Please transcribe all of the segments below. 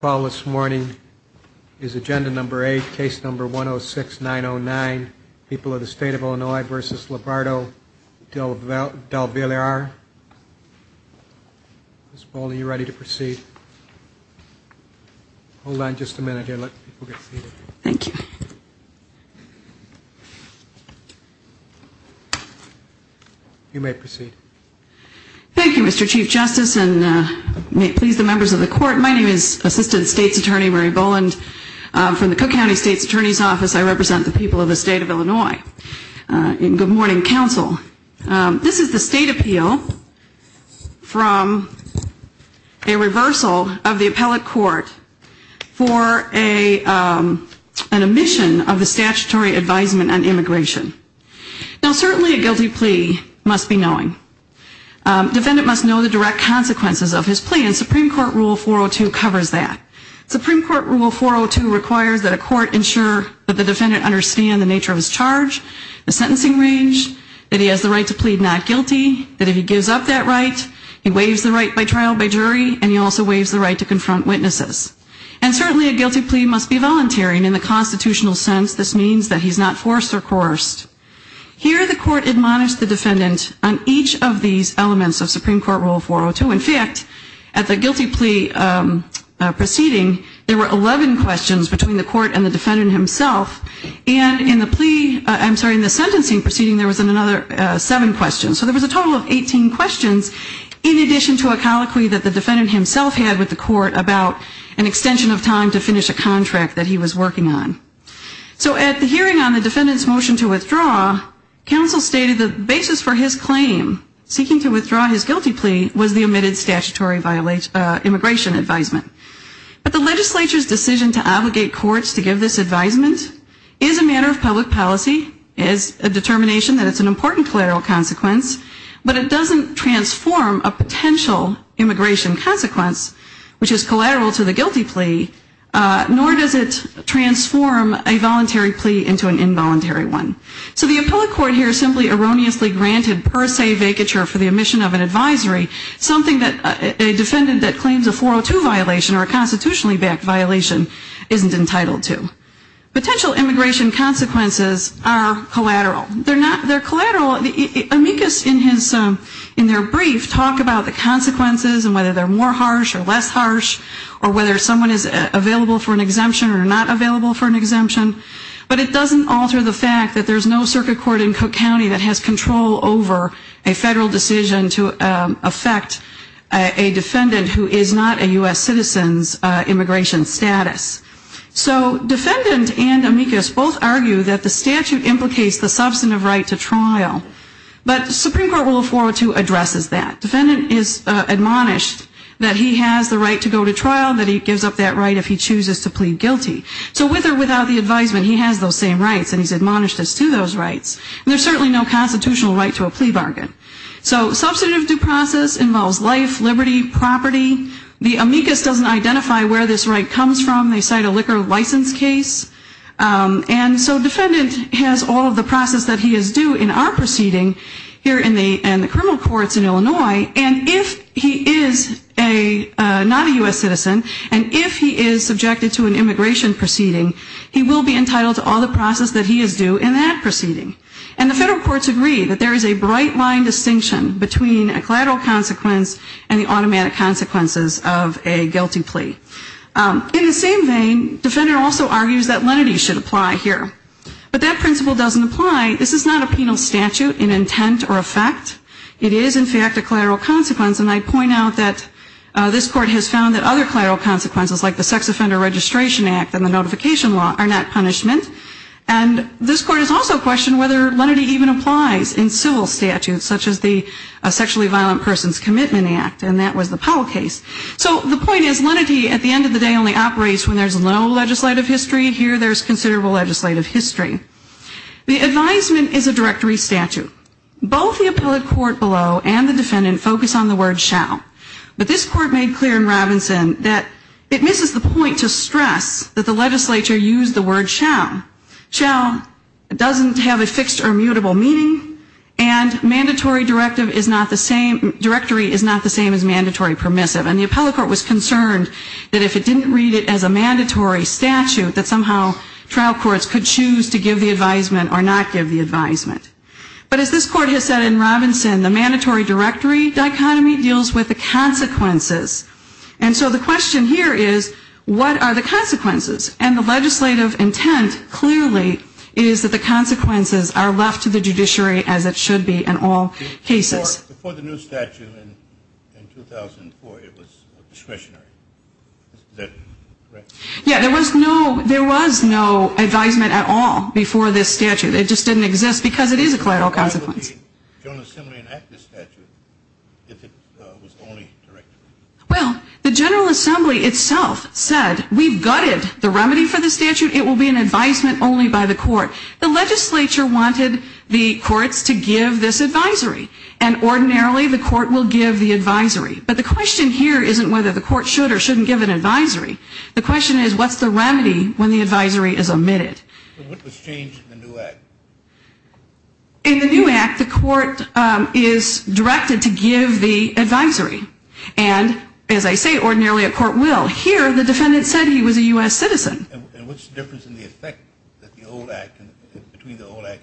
Paul, this morning is agenda number eight, case number 106909, people of the state of Illinois versus Labarto Delvillar. Miss Paul, are you ready to proceed? Hold on just a minute here, let people get seated. Thank you. You may proceed. Thank you, Mr. Chief Justice, and may it please the members of the court. My name is Assistant State's Attorney Mary Boland from the Cook County State's Attorney's Office. I represent the people of the state of Illinois in good morning, counsel. This is the state appeal from a reversal of the appellate court for an omission of the statutory advisement on immigration. Now, certainly a guilty plea must be knowing. Defendant must know the direct consequences of his plea, and Supreme Court Rule 402 covers that. Supreme Court Rule 402 requires that a court ensure that the defendant understand the nature of his charge, the sentencing range, that he has the right to plead not guilty, that if he gives up that right, he waives the right by trial by jury, and he also waives the right to confront witnesses. And certainly a guilty plea must be volunteering. In the constitutional sense, this means that he's not forced or coerced. Here the court admonished the defendant on each of these elements of Supreme Court Rule 402. In fact, at the guilty plea proceeding, there were 11 questions between the court and the defendant himself. And in the plea, I'm sorry, in the sentencing proceeding, there was another seven questions. So there was a total of 18 questions in addition to a colloquy that the defendant himself had with the court about an extension of time to finish a contract that he was working on. So at the hearing on the defendant's motion to withdraw, counsel stated the basis for his claim, seeking to withdraw his guilty plea, was the omitted statutory immigration advisement. But the legislature's decision to obligate courts to give this advisement is a matter of public policy, is a determination that it's an important collateral consequence, but it doesn't transform a potential immigration consequence, which is collateral to the guilty plea, nor does it transform the voluntary plea into an involuntary one. So the appellate court here simply erroneously granted per se vacature for the omission of an advisory, something that a defendant that claims a 402 violation or a constitutionally backed violation isn't entitled to. Potential immigration consequences are collateral. They're collateral. Amicus in their brief talk about the consequences and whether they're more harsh or less harsh or whether someone is available for an exemption or not available for an exemption, but it doesn't alter the fact that there's no circuit court in Cook County that has control over a federal decision to affect a defendant who is not a U.S. citizen's immigration status. So defendant and Amicus both argue that the statute implicates the substantive right to trial, but Supreme Court Rule 402 addresses that. Defendant is admonished that he has the right to go to trial, that he gives up that right if he chooses to plead guilty. So with or without the advisement, he has those same rights and he's admonished as to those rights. And there's certainly no constitutional right to a plea bargain. So substantive due process involves life, liberty, property. The Amicus doesn't identify where this right comes from. They cite a liquor license case. And so defendant has all of the process that he is due in our proceeding here in the criminal courts in Illinois, and if he is not a U.S. citizen, and if he is subjected to an immigration proceeding, he will be entitled to all the process that he is due in that proceeding. And the federal courts agree that there is a bright line distinction between a collateral consequence and the automatic consequences of a guilty plea. In the same vein, defendant also argues that lenity should apply here. But that principle doesn't apply. This is not a penal statute in intent or effect. It is in fact a collateral consequence. And I point out that this court has found that other collateral consequences like the Sex Offender Registration Act and the Notification Law are not punishment. And this court has also questioned whether lenity even applies in civil statutes such as the Sexually Violent Persons Commitment Act, and that was the Powell case. So the point is, lenity at the end of the day only operates when there's no legislative history. Here there's considerable legislative history. The advisement is a directory statute. Both the appellate court below and the defendant focus on the word shall. But this court made clear in Robinson that it misses the point to stress that the legislature used the word shall. Shall doesn't have a fixed or mutable meaning, and mandatory directory is not the same as mandatory permissive. And the appellate court was concerned that if it didn't read it as a mandatory statute, that somehow trial courts could choose to give the advisement or not give the advisement. But as this court has said in Robinson, the mandatory directory dichotomy deals with the consequences. And so the question here is, what are the consequences? And the legislative intent clearly is that the consequences are left to the judiciary as it should be in all cases. Before the new statute in 2004, it was discretionary. Is that correct? Yeah, there was no advisement at all before this statute. It just didn't exist because it is a collateral consequence. Why would the General Assembly enact this statute if it was only directory? Well, the General Assembly itself said, we've gutted the remedy for the statute, it will be an advisement only by the court. The legislature wanted the courts to give this advisory. And ordinarily the court will give the advisory. But the question here isn't whether the court should or shouldn't give an advisory. What was changed in the new act? In the new act, the court is directed to give the advisory. And as I say, ordinarily a court will. Here, the defendant said he was a U.S. citizen. And what's the difference in the effect between the old act and the new act?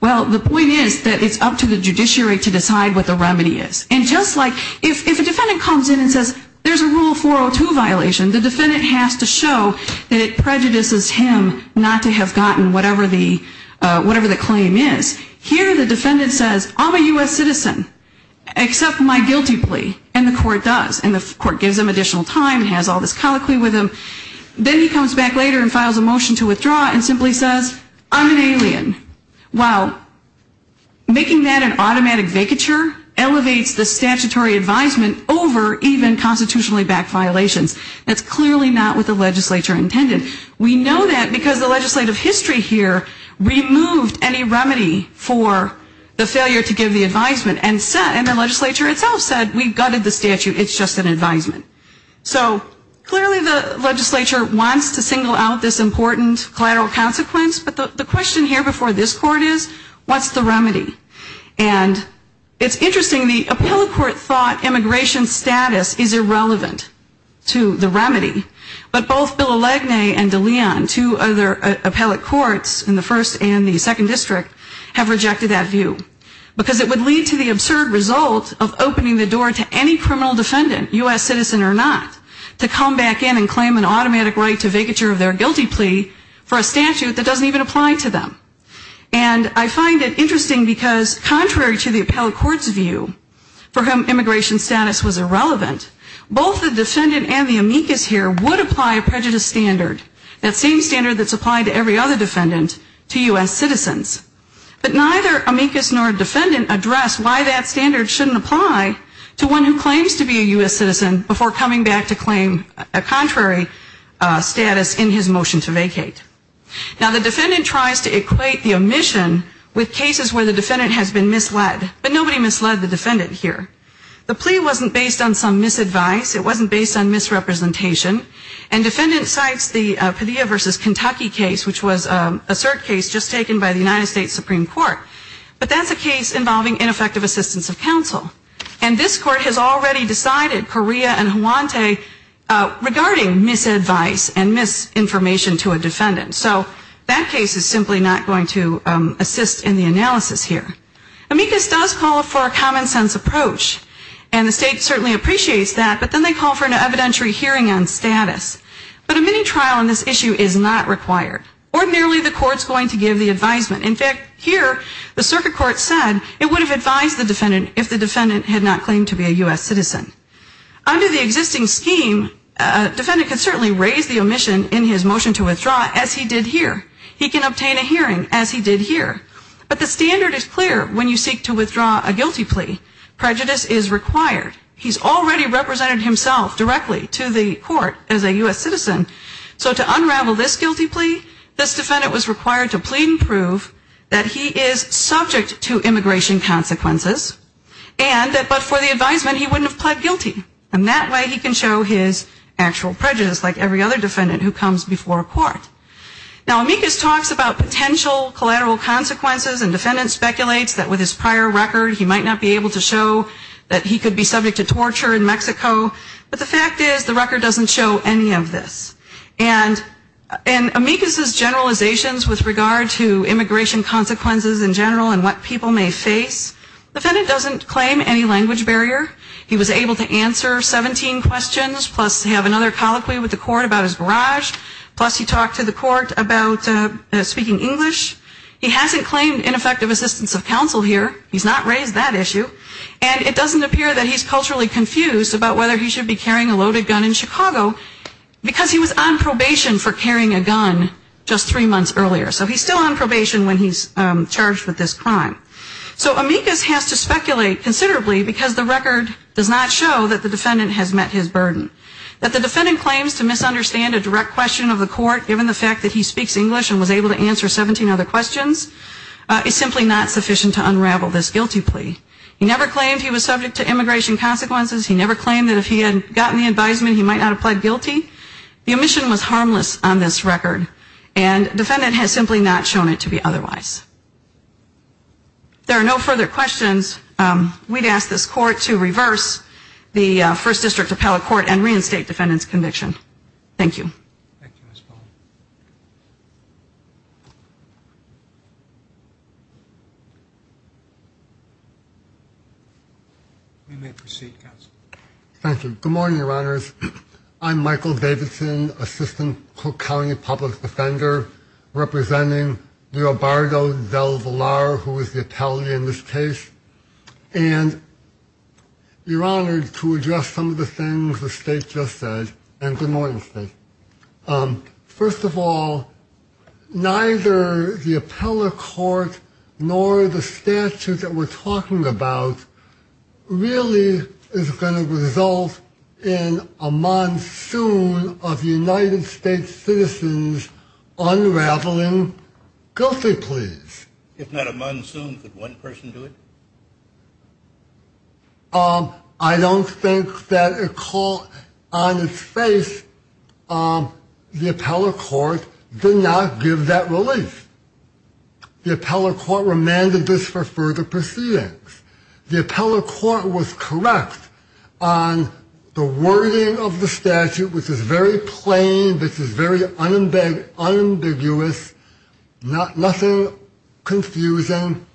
Well, the point is that it's up to the judiciary to decide what the remedy is. And just like if a defendant comes in and says, there's a Rule 402 violation, the defendant has to show that it prejudices him not to do it. Not to have gotten whatever the claim is. Here the defendant says, I'm a U.S. citizen. Accept my guilty plea. And the court does. And the court gives him additional time, has all this colloquy with him. Then he comes back later and files a motion to withdraw and simply says, I'm an alien. Well, making that an automatic vacature elevates the statutory advisement over even constitutionally backed violations. That's clearly not what the legislature intended. We know that because the legislative history here removed any remedy for the failure to give the advisement. And the legislature itself said, we gutted the statute. It's just an advisement. So clearly the legislature wants to single out this important collateral consequence. But the question here before this court is, what's the remedy? And it's interesting, the appellate court thought immigration status is irrelevant to the remedy. But both Bill O'Lagany and DeLeon, two other appellate courts in the first and the second district, have rejected that view. Because it would lead to the absurd result of opening the door to any criminal defendant, U.S. citizen or not, to come back in and claim an automatic right to vacature of their guilty plea for a statute that doesn't even apply to them. And I find it interesting because contrary to the appellate court's view, for whom immigration status was irrelevant, both the defendant and the amicus here would apply a prejudice standard, that same standard that's applied to every other defendant, to U.S. citizens. But neither amicus nor defendant address why that standard shouldn't apply to one who claims to be a U.S. citizen before coming back to claim a contrary status in his motion to vacate. Now the defendant tries to equate the omission with cases where the defendant has been misled. But nobody misled the defendant here. The plea wasn't based on some misadvice. It wasn't based on misrepresentation. And defendant cites the Padilla v. Kentucky case, which was a cert case just taken by the United States Supreme Court. But that's a case involving ineffective assistance of counsel. And this court has already decided, Correa and Huante, regarding misadvice and misinformation to a defendant. So that case is simply not going to assist in the analysis here. Amicus does call for a common sense approach. And the state certainly appreciates that. But then they call for an evidentiary hearing on status. But a mini-trial on this issue is not required. Ordinarily the court's going to give the advisement. In fact, here, the circuit court said it would have advised the defendant if the defendant had not claimed to be a U.S. citizen. Under the existing scheme, a defendant can certainly raise the omission in his motion to withdraw, as he did here. He can obtain a hearing, as he did here. But the standard is clear. When you seek to withdraw a guilty plea, prejudice is required. He's already represented himself directly to the court as a U.S. citizen. So to unravel this guilty plea, this defendant was required to plead and prove that he is subject to immigration consequences, and that but for the advisement he wouldn't have pled guilty. And that way he can show his actual prejudice, like every other defendant who comes before a court. Now, Amicus talks about potential collateral consequences, and the defendant speculates that with his prior record, he might not be able to show that he could be subject to torture in Mexico. But the fact is, the record doesn't show any of this. And Amicus's generalizations with regard to immigration consequences in general and what people may face, the defendant doesn't claim any language barrier. He was able to answer 17 questions, plus have another colloquy with the court about his barrage, plus he talked to the judge. He talked to the court about speaking English. He hasn't claimed ineffective assistance of counsel here. He's not raised that issue. And it doesn't appear that he's culturally confused about whether he should be carrying a loaded gun in Chicago, because he was on probation for carrying a gun just three months earlier. So he's still on probation when he's charged with this crime. So Amicus has to speculate considerably, because the record does not show that the defendant has met his burden. That the defendant claims to misunderstand a direct question of the court, given the fact that he speaks English and was able to answer 17 other questions, is simply not sufficient to unravel this guilty plea. He never claimed he was subject to immigration consequences. He never claimed that if he had gotten the advisement, he might not have pled guilty. The omission was harmless on this record, and defendant has simply not shown it to be otherwise. There are no further questions. We'd ask this court to reverse the First District Appellate Court and reinstate defendant's conviction. Thank you. We may proceed, Counsel. Thank you. Good morning, Your Honors. I'm Michael Davidson, Assistant Cook County Public Defender, representing Leonardo Del Valar, who is the appellee in this case. And you're honored to address some of the things the State just said, and good morning, State. First of all, neither the appellate court nor the statute that we're talking about really is going to result in a monsoon of United States citizens unraveling guilty pleas. If not a monsoon, could one person do it? I don't think that a call on its face, the appellate court did not give that relief. The appellate court remanded this for further proceedings. The appellate court was correct on the wording of the statute, which is very plain, which is very unambiguous, nothing wrong with it. But in the absence of confusion,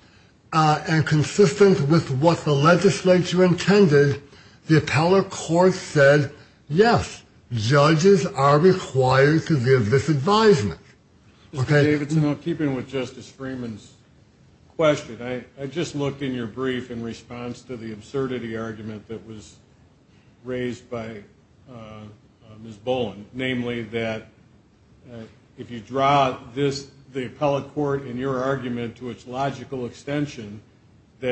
and consistent with what the legislature intended, the appellate court said, yes, judges are required to give this advisement. Mr. Davidson, in keeping with Justice Freeman's question, I just looked in your brief in response to the absurdity argument that was raised by Ms. Boland, namely that if you draw the appellate court in your argument as a monsoon of United States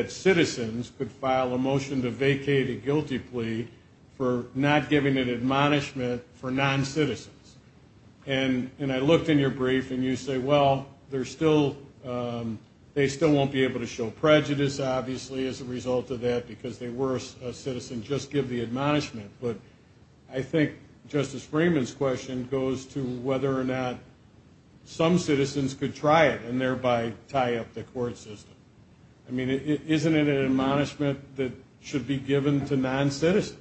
citizens unraveling guilty pleas, then it's legitimate to its logical extension that citizens could file a motion to vacate a guilty plea for not giving an admonishment for non-citizens. And I looked in your brief, and you say, well, they still won't be able to show prejudice, obviously, as a result of that, because they were a citizen. Just give the admonishment. But I think Justice Freeman's question goes to whether or not some citizens could try it, and thereby tie it to the statute. And I think that's a very good question. And I think that's a very good question. I mean, isn't it an admonishment that should be given to non-citizens?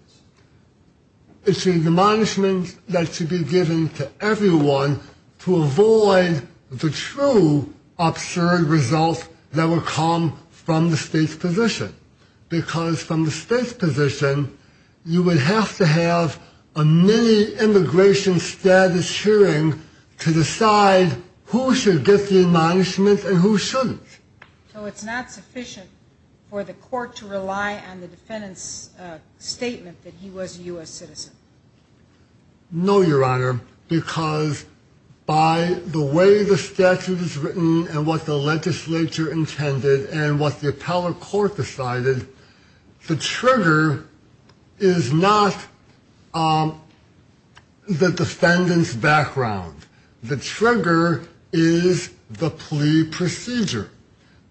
It's an admonishment that should be given to everyone to avoid the true absurd results that would come from the state's position. Because from the state's position, you would have to have a mini-immigration status hearing to decide who should get the admonishment and who shouldn't. So it's not sufficient for the court to rely on the defendant's statement that he was a U.S. citizen? No, Your Honor, because by the way the statute is written and what the legislature intended and what the appellate court decided, the trigger is not the defendant's background. The trigger is the plea procedure.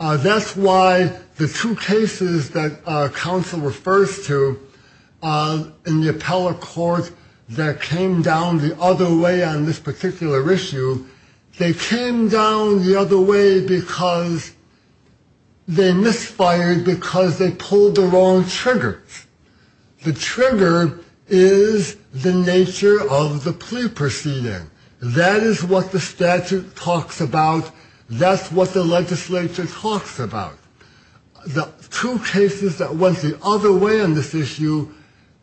That's why the two cases that counsel refers to in the appellate court that came down the other way on this particular issue, they came down the other way because they misfired because they pulled the wrong triggers. The trigger is the nature of the plea proceeding. That is what the statute talks about. That's what the legislature talks about. The two cases that went the other way on this issue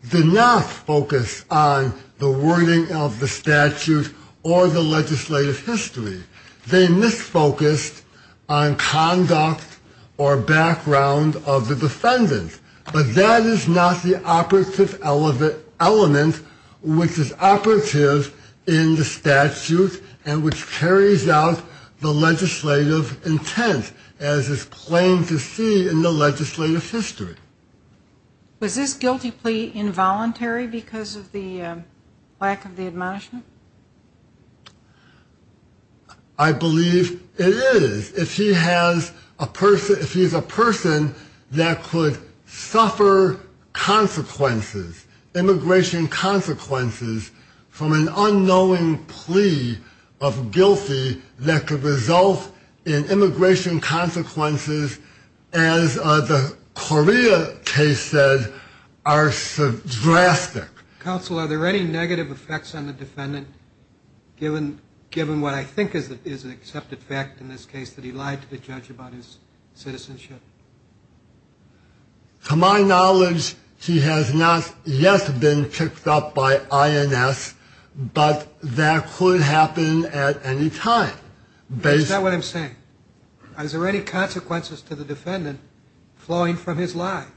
did not focus on the wording of the statute or the legislative history. They misfocused on conduct or background of the defendant. But that is not the operative element which is operative in the statute and which carries out the legislative history. It's the legislative intent as is plain to see in the legislative history. Was this guilty plea involuntary because of the lack of the admonishment? I believe it is. If he has a person, if he's a person that could suffer consequences, immigration consequences from an unknowing plea of guilty that could result in immigration consequences, as the Correa case said, are drastic. Counsel, are there any negative effects on the defendant given what I think is an accepted fact in this case that he lied to the judge about his citizenship? To my knowledge, he has not yet been picked up by INS, but that could happen at any time. That's not what I'm saying. Are there any consequences to the defendant flowing from his lie?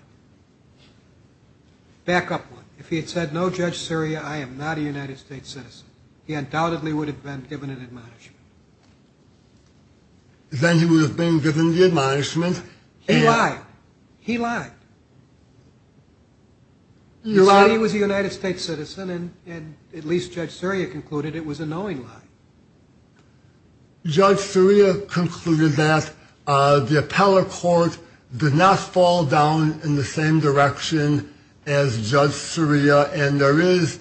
Back up one. If he had said, no, Judge Surya, I am not a United States citizen, he undoubtedly would have been given an admonishment. Then he would have been given the admonishment. He lied. He lied. He lied he was a United States citizen and at least Judge Surya concluded it was a knowing lie. Judge Surya concluded that the appellate court did not fall down in the same direction as Judge Surya and there is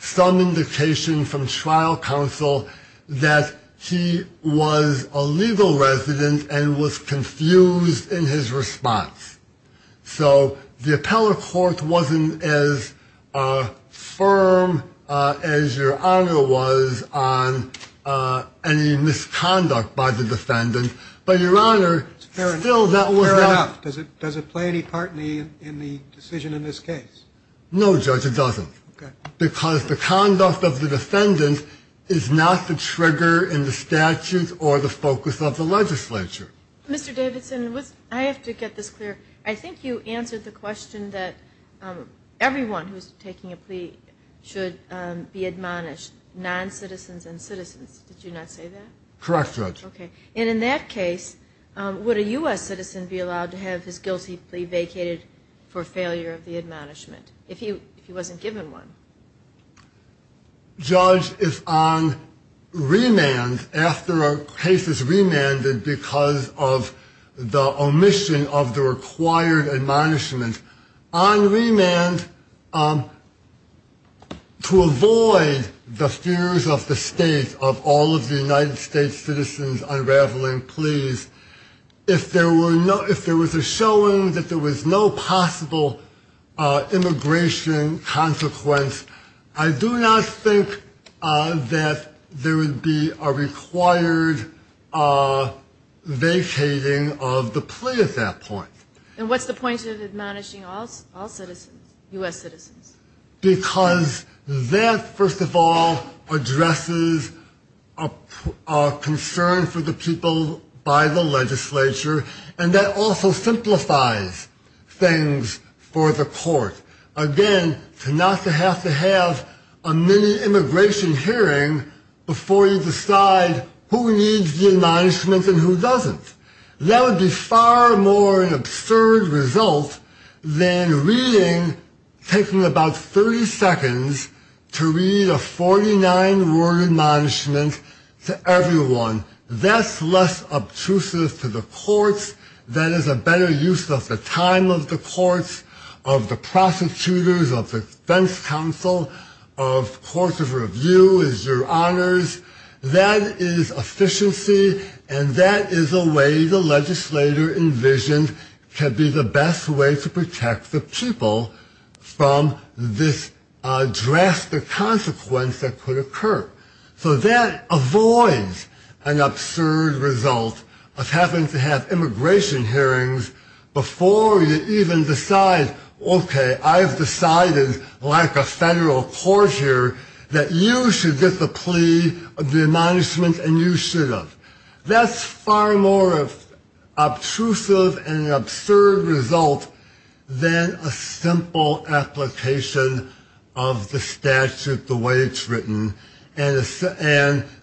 some indication from trial counsel that he was a legal resident and was confused in his response. So the appellate court wasn't as firm as your honor was on any of the other cases. There was a misconduct by the defendant, but your honor, still that was not... Fair enough. Does it play any part in the decision in this case? No, Judge, it doesn't. Because the conduct of the defendant is not the trigger in the statute or the focus of the legislature. Mr. Davidson, I have to get this clear. I think you answered the question that everyone who is taking a plea should be admonished, non-citizens and citizens. Did you not say that? Correct, Judge. And in that case, would a U.S. citizen be allowed to have his guilty plea vacated for failure of the admonishment, if he wasn't given one? Judge, if on remand, after a case is remanded because of the omission of the required admonishment, on remand, to avoid the fears of the state of all the other cases, all of the United States citizens unraveling pleas, if there was a showing that there was no possible immigration consequence, I do not think that there would be a required vacating of the plea at that point. And what's the point of admonishing all citizens, U.S. citizens? Because that, first of all, addresses the fact that the U.S. citizen is not a U.S. citizen. It's a concern for the people by the legislature, and that also simplifies things for the court. Again, to not have to have a mini-immigration hearing before you decide who needs the admonishment and who doesn't. That would be far more an absurd result than reading, taking about 30 seconds to read a 49-word admonishment, to everyone, that's less obtrusive to the courts, that is a better use of the time of the courts, of the prosecutors, of the defense counsel, of courts of review, as your honors. That is efficiency, and that is a way the legislator envisioned can be the best way to protect the people from this drastic consequence that could occur. So that avoids an absurd result of having to have immigration hearings before you even decide, okay, I've decided, like a federal court here, that you should get the plea of the admonishment and you should have. That's far more obtrusive and an absurd result than a simple application of the statute the way it's written and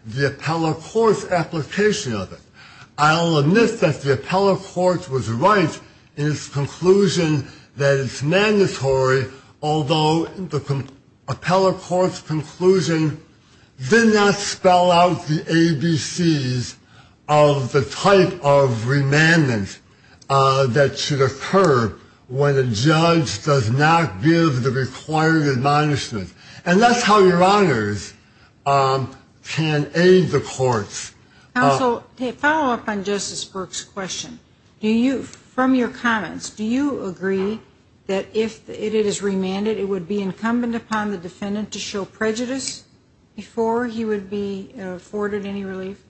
the appellate court's application of it. I'll admit that the appellate court was right in its conclusion that it's mandatory, although the appellate court's conclusion did not spell out the ABCs of the type of remandment that should occur when a judge does not give the required admonishment. And that's how your honors can aid the courts. Counsel, to follow up on Justice Burke's question, from your comments, do you agree that if it is remanded, it would be incumbent upon the defendant to show prejudice before he would be afforded any relief?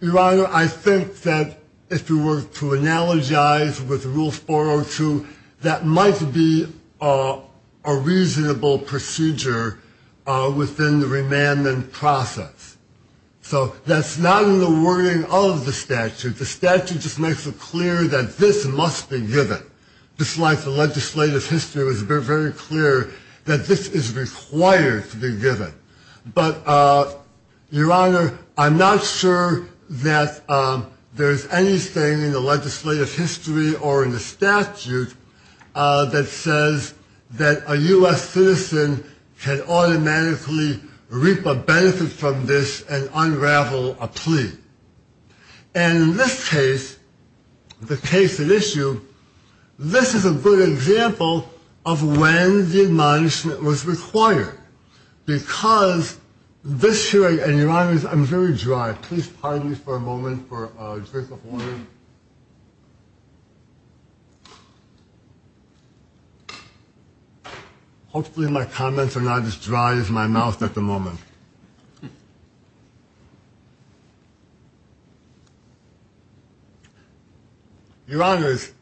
Your honor, I think that if you were to analogize with Rule 402, that might be a reasonable procedure within the remandment process. So that's not in the wording of the statute. The statute just makes it clear that this must be given. Just like the legislative history was very clear that this is required to be given. But, your honor, I'm not sure that there's anything in the legislative history or in the statute that says that a U.S. citizen can automatically reap a benefit from this and unravel a plea. And in this case, the case at issue, this is a good example of when the admonishment was required. Because this hearing, and your honors, I'm very dry. Please pardon me for a moment for a drink of water. Hopefully my comments are not as dry as my mouth at the moment. Your honors,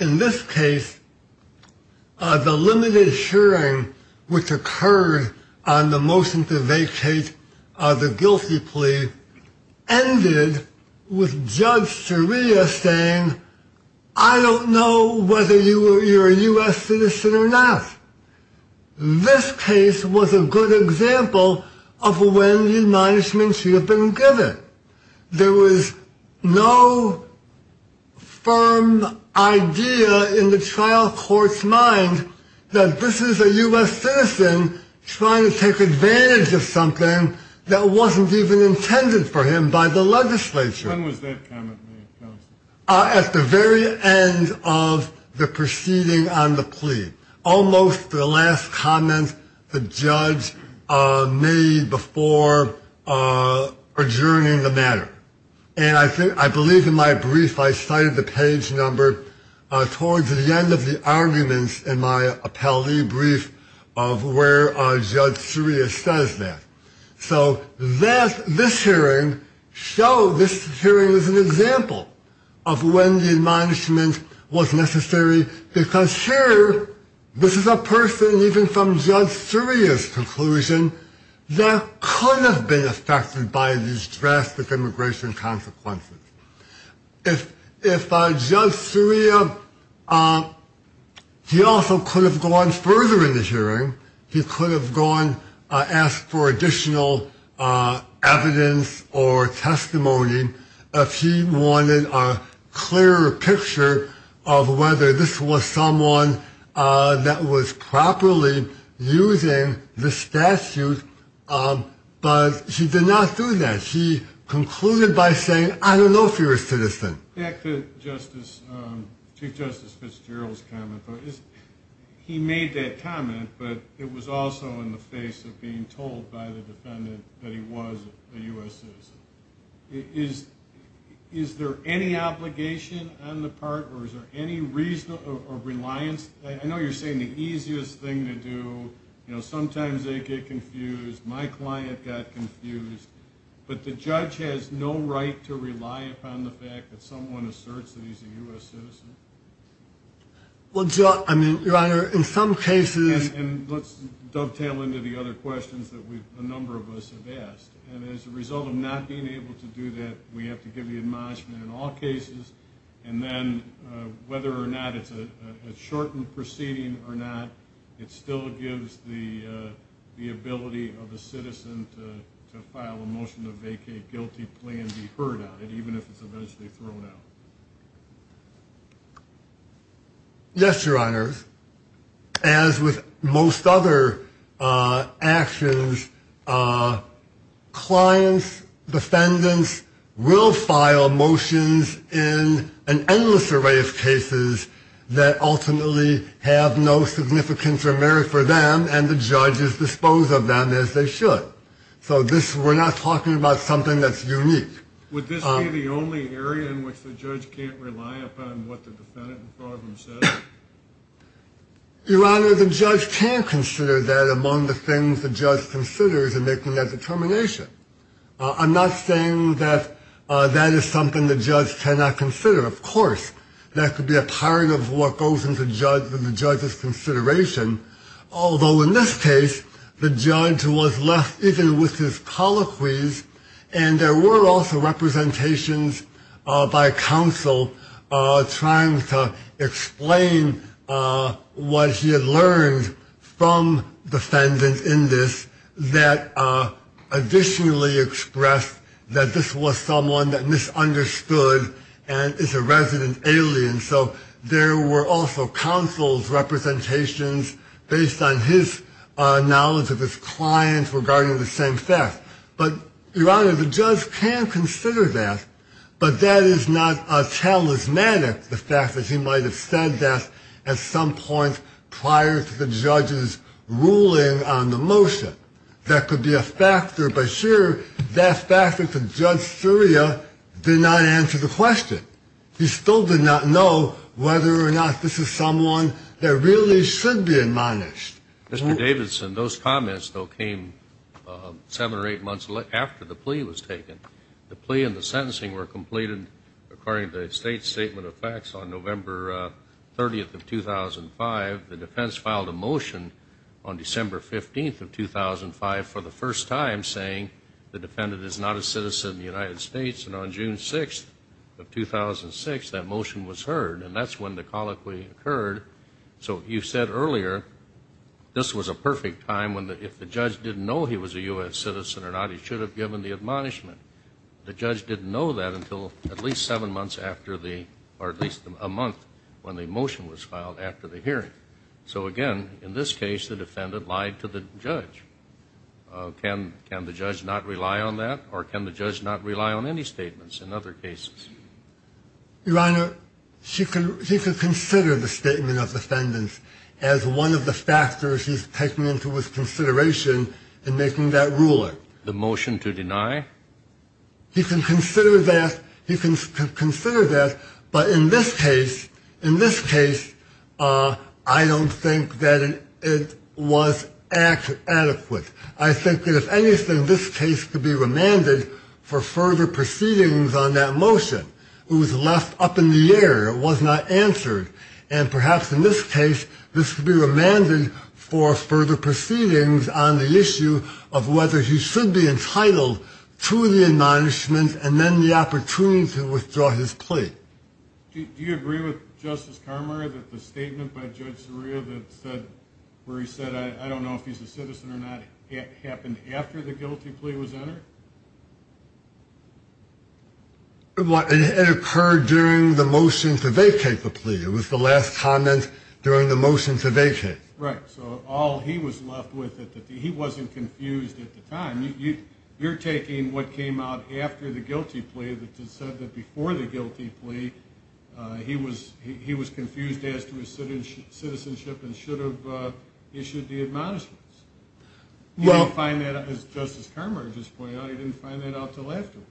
in this case, the limited hearing which occurred on the motion to vacate the guilty plea ended with Judge Soria saying, I don't know whether you're a U.S. citizen or not. This case was a good example of when the admonishment should have been given. There was no firm idea in the trial court's mind that this is a U.S. citizen trying to take advantage of something that wasn't even intended for him by the legislature. When was that comment made, counsel? At the very end of the proceeding on the plea. Almost the last comment the judge made before adjourning the matter. And I believe in my brief I cited the page number towards the end of the arguments in my appellee brief of where Judge Soria says that. So this hearing shows, this hearing is an example of when the admonishment was necessary because here, this is a person even from Judge Soria's conclusion that could have been affected by these drastic immigration consequences. If Judge Soria, he also could have gone further in the hearing. He could have gone, asked for additional evidence or testimony if he wanted a clearer picture of whether this was someone that was properly using the statute. But he did not do that. He concluded by saying, I don't know if you're a citizen. Back to Chief Justice Fitzgerald's comment. He made that comment, but it was also in the face of being told by the defendant that he was a U.S. citizen. Is there any obligation on the part or is there any reason or reliance? I know you're saying the easiest thing to do. Sometimes they get confused. My client got confused. But the judge has no right to rely upon the fact that someone asserts that he's a U.S. citizen. Your Honor, in some cases... And let's dovetail into the other questions that a number of us have asked. And as a result of not being able to do that, we have to give the admonishment in all cases. And then whether or not it's a shortened proceeding or not, it still gives the ability of a citizen to file a motion to vacate guilty plea and be heard on it, even if it's eventually thrown out. Yes, Your Honor. As with most other actions, clients, defendants, will file motions in an endless array of cases that ultimately have no significance or merit for them and the judges dispose of them as they should. So we're not talking about something that's unique. Would this be the only area in which the judge can't rely upon what the defendant in front of him says? Your Honor, the judge can consider that among the things the judge considers in making that determination. I'm not saying that that is something the judge cannot consider. Of course, that could be a part of what goes into the judge's consideration. Although in this case, the judge was left even with his colloquies and there were also representations by counsel trying to explain what he had learned from defendants in this that additionally expressed that this was someone that misunderstood and is a resident alien. So there were also counsel's representations based on his knowledge of his clients regarding the same theft. But, Your Honor, the judge can consider that but that is not a talismanic, the fact that he might have said that at some point prior to the judge's ruling on the motion. That could be a factor, but here, that factor to Judge Surya did not answer the question. He still did not know whether or not this is someone that really should be admonished. Mr. Davidson, those comments, though, came seven or eight months after the plea was taken. The plea and the sentencing were completed according to the State Statement of Facts on November 30, 2005. The defense filed a motion on December 15, 2005 for the first time saying the defendant is not a citizen of the United States and on June 6, 2006, that motion was heard and that's when the colloquy occurred. So you said earlier this was a perfect time if the judge didn't know he was a U.S. citizen or not, he should have given the admonishment. The judge didn't know that until at least seven months after the, or at least a month when the motion was filed after the hearing. So again, in this case, the defendant lied to the judge. Can the judge not rely on that or can the judge not rely on any statements in other cases? Your Honor, he could consider the statement of the defendants as one of the factors he's taking into his consideration in making that ruling. The motion to deny? He can consider that, he can consider that, but in this case, in this case, I don't think that it was adequate. I think that if anything, this case could be remanded for further proceedings on that motion. It was left up in the air, it was not answered, and perhaps in this case, this could be remanded for further proceedings on the issue of whether he should be entitled to the admonishment and then the opportunity to withdraw his plea. Do you agree with Justice Carmer that the statement by Judge Soria that said, where he said, I don't know if he's a citizen or not, happened after the guilty plea was entered? It occurred during the motion to vacate the plea. It was the last comment during the motion to vacate. Right, so all he was left with, he wasn't confused at the time. You're taking what came out after the guilty plea that said that before the guilty plea, he was confused as to his citizenship and should have issued the admonishments. He didn't find that, as Justice Carmer just pointed out, he didn't find that out until afterwards.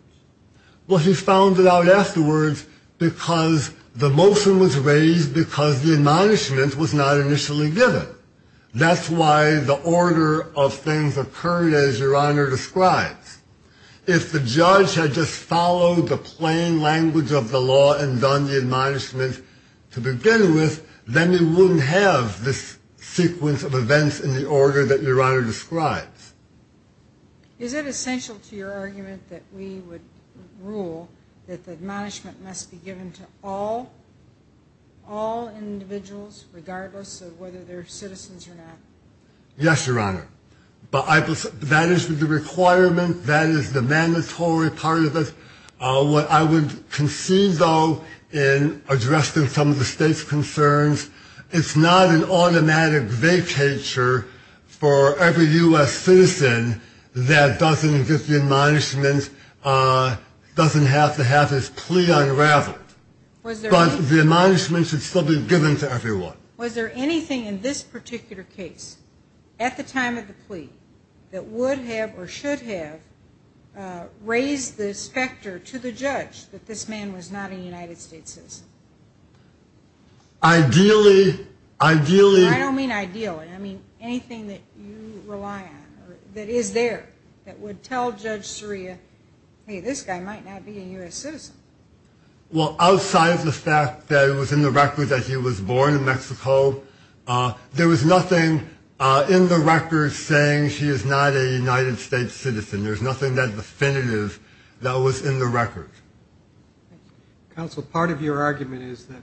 Well, he found it out afterwards because the motion was raised because the admonishment was not initially given. That's why the order of things occurred, as Your Honor describes. If the judge had just followed the plain language of the law and done the admonishments to begin with, then he wouldn't have this sequence of events in the order that Your Honor describes. Is it essential to your argument that we would rule that the admonishment must be given to all individuals, regardless of whether they're citizens or not? Yes, Your Honor. But that is the requirement, that is the mandatory part of it. What I would concede, though, in addressing some of the state's concerns, it's not an automatic vacature for every U.S. citizen that doesn't get the admonishment, doesn't have to have his plea unraveled. But the admonishment should still be given to everyone. Was there anything in this particular case, at the time of the plea, that would have or should have raised the specter to the judge that this man was not a United States citizen? Ideally... I don't mean ideally. I mean anything that you rely on, that is there, that would tell Judge Soria, hey, this guy might not be a U.S. citizen. Well, outside of the fact that it was in the record that he was born in Mexico, there was nothing in the record saying she is not a United States citizen. There's nothing that definitive that was in the record. Counsel, part of your argument is that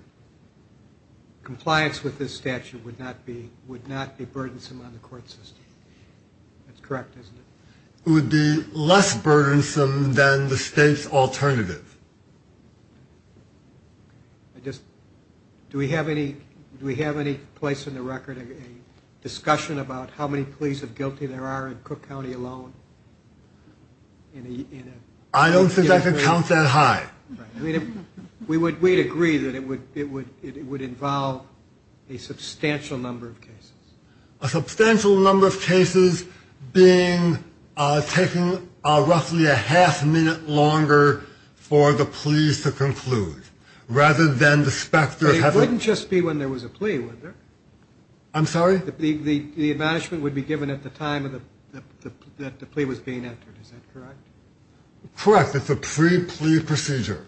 compliance with this statute would not be burdensome on the court system. That's correct, isn't it? It would be less burdensome than the state's alternative. Do we have any place in the record of a discussion about how many pleas of guilty there are in Cook County alone? I don't think I can count that high. We'd agree that it would involve a substantial number of cases. A substantial number of cases taking roughly a half minute longer for the pleas to conclude, rather than the specter of having... It wouldn't just be when there was a plea, would there? I'm sorry? The admonishment would be given at the time that the plea was being entered. Is that correct? Correct. It's a pre-plea procedure.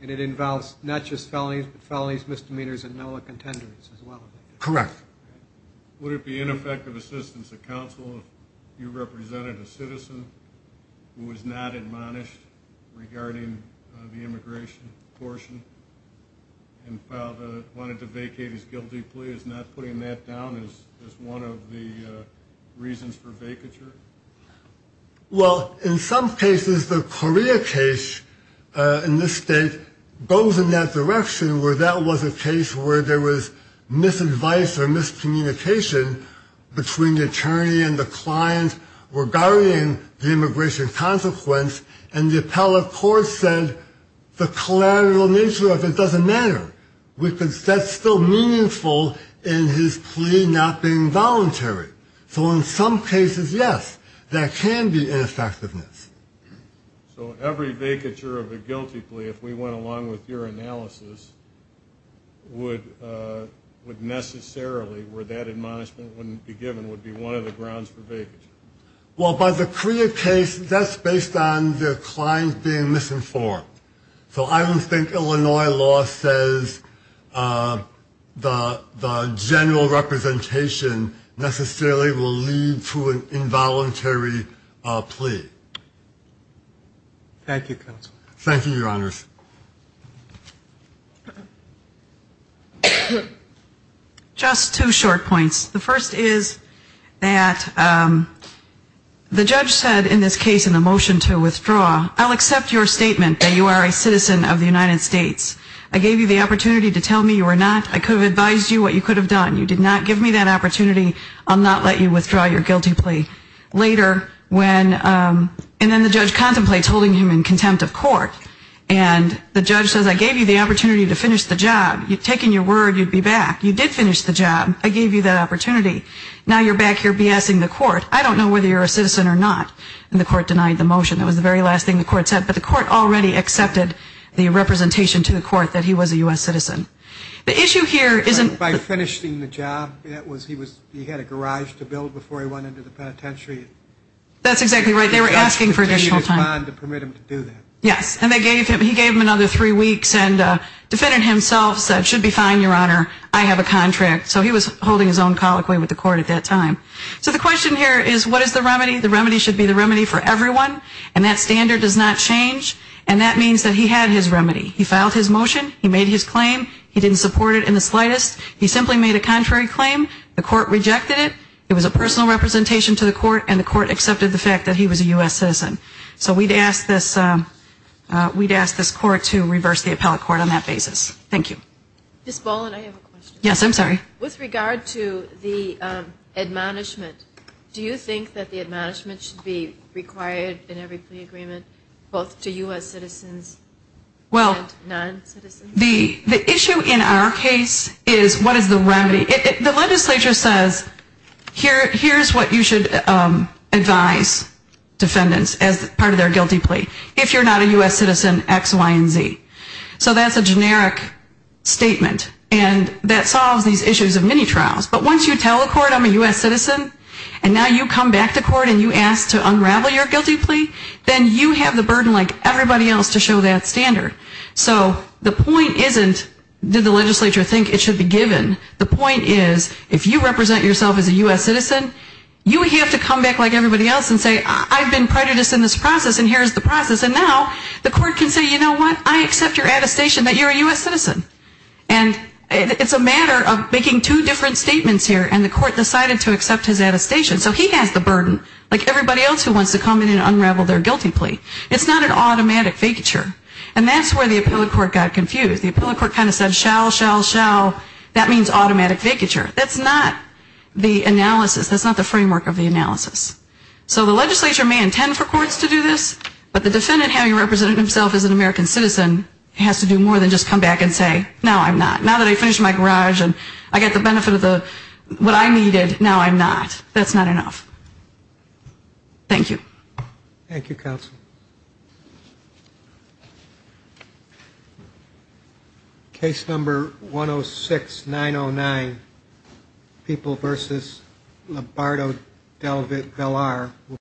And it involves not just felonies, but felonies, misdemeanors, and no other contenders as well. Correct. Would it be ineffective assistance to counsel if you represented a citizen who was not admonished regarding the immigration portion and wanted to vacate his guilty plea? Is not putting that down as one of the reasons for vacature? Well, in some cases, the Korea case in this state goes in that direction, where that was a case where there was misadvice or miscommunication between the attorney and the client regarding the immigration consequence, and the appellate court said the collateral nature of it doesn't matter. That's still meaningful in his plea not being voluntary. So in some cases, yes, there can be ineffectiveness. So every vacature of a guilty plea, if we went along with your analysis, would necessarily, where that admonishment wouldn't be given, would be one of the grounds for vacature? Well, by the Korea case, that's based on the client being misinformed. So I don't think Illinois law says that the general representation necessarily will lead to an involuntary plea. Thank you, Counsel. Thank you, Your Honors. Just two short points. The first is that the judge said in this case in the motion to withdraw, I'll accept your statement that you are a citizen of the United States. I gave you the opportunity to tell me you were not. I could have advised you what you could have done. You did not give me that opportunity. I'll not let you withdraw your guilty plea. Later when, and then the judge contemplates holding him in contempt of court, and the judge says I gave you the opportunity to finish the job. You'd taken your word you'd be back. You did finish the job. I gave you that opportunity. Now you're back here BSing the court. I don't know whether you're a citizen or not. And the court denied the motion. That was the very last thing the court said. But the court already accepted the representation to the court that he was a U.S. citizen. The issue here isn't... By finishing the job, he had a garage to build before he went into the penitentiary. That's exactly right. They were asking for additional time. The judge continued his bond to permit him to do that. Yes. And he gave him another three weeks and defended himself, said it should be fine, Your Honor. I have a contract. So he was holding his own colloquy with the court at that time. So the question here is what is the remedy? The remedy should be the remedy for everyone. And that standard does not change. And that means that he had his remedy. He filed his motion. He made his claim. He didn't support it in the slightest. He simply made a contrary claim. The court rejected it. It was a personal representation to the court, and the court accepted the fact that he was a U.S. citizen. So we'd ask this court to reverse the appellate court on that basis. Thank you. Ms. Boland, I have a question. Yes, I'm sorry. With regard to the admonishment, do you think that the admonishment should be required in every plea agreement both to U.S. citizens and non-citizens? Well, the issue in our case is what is the remedy. The legislature says here's what you should advise defendants as part of their guilty plea. If you're not a U.S. citizen, X, Y, and Z. So that's a generic statement, and that solves these issues of many trials. But once you tell a court I'm a U.S. citizen, and now you come back to court and you ask to unravel your guilty plea, then you have the burden like everybody else to show that standard. So the point isn't did the legislature think it should be given. The point is if you represent yourself as a U.S. citizen, you have to come back like everybody else and say I've been prejudiced in this process, and here's the process. And now the court can say, you know what, I accept your attestation that you're a U.S. citizen. And it's a matter of making two different statements here, and the court decided to accept his attestation. So he has the burden like everybody else who wants to come in and unravel their guilty plea. It's not an automatic vacature. And that's where the appellate court got confused. The appellate court kind of said shall, shall, shall. That means automatic vacature. That's not the analysis. That's not the framework of the analysis. So the legislature may intend for courts to do this, but the defendant having represented himself as an American citizen has to do more than just come back and say, no, I'm not. Now that I finished my garage and I got the benefit of what I needed, now I'm not. That's not enough. Thank you. Thank you, counsel. Case number 106-909, People v. Lombardo-Delvar.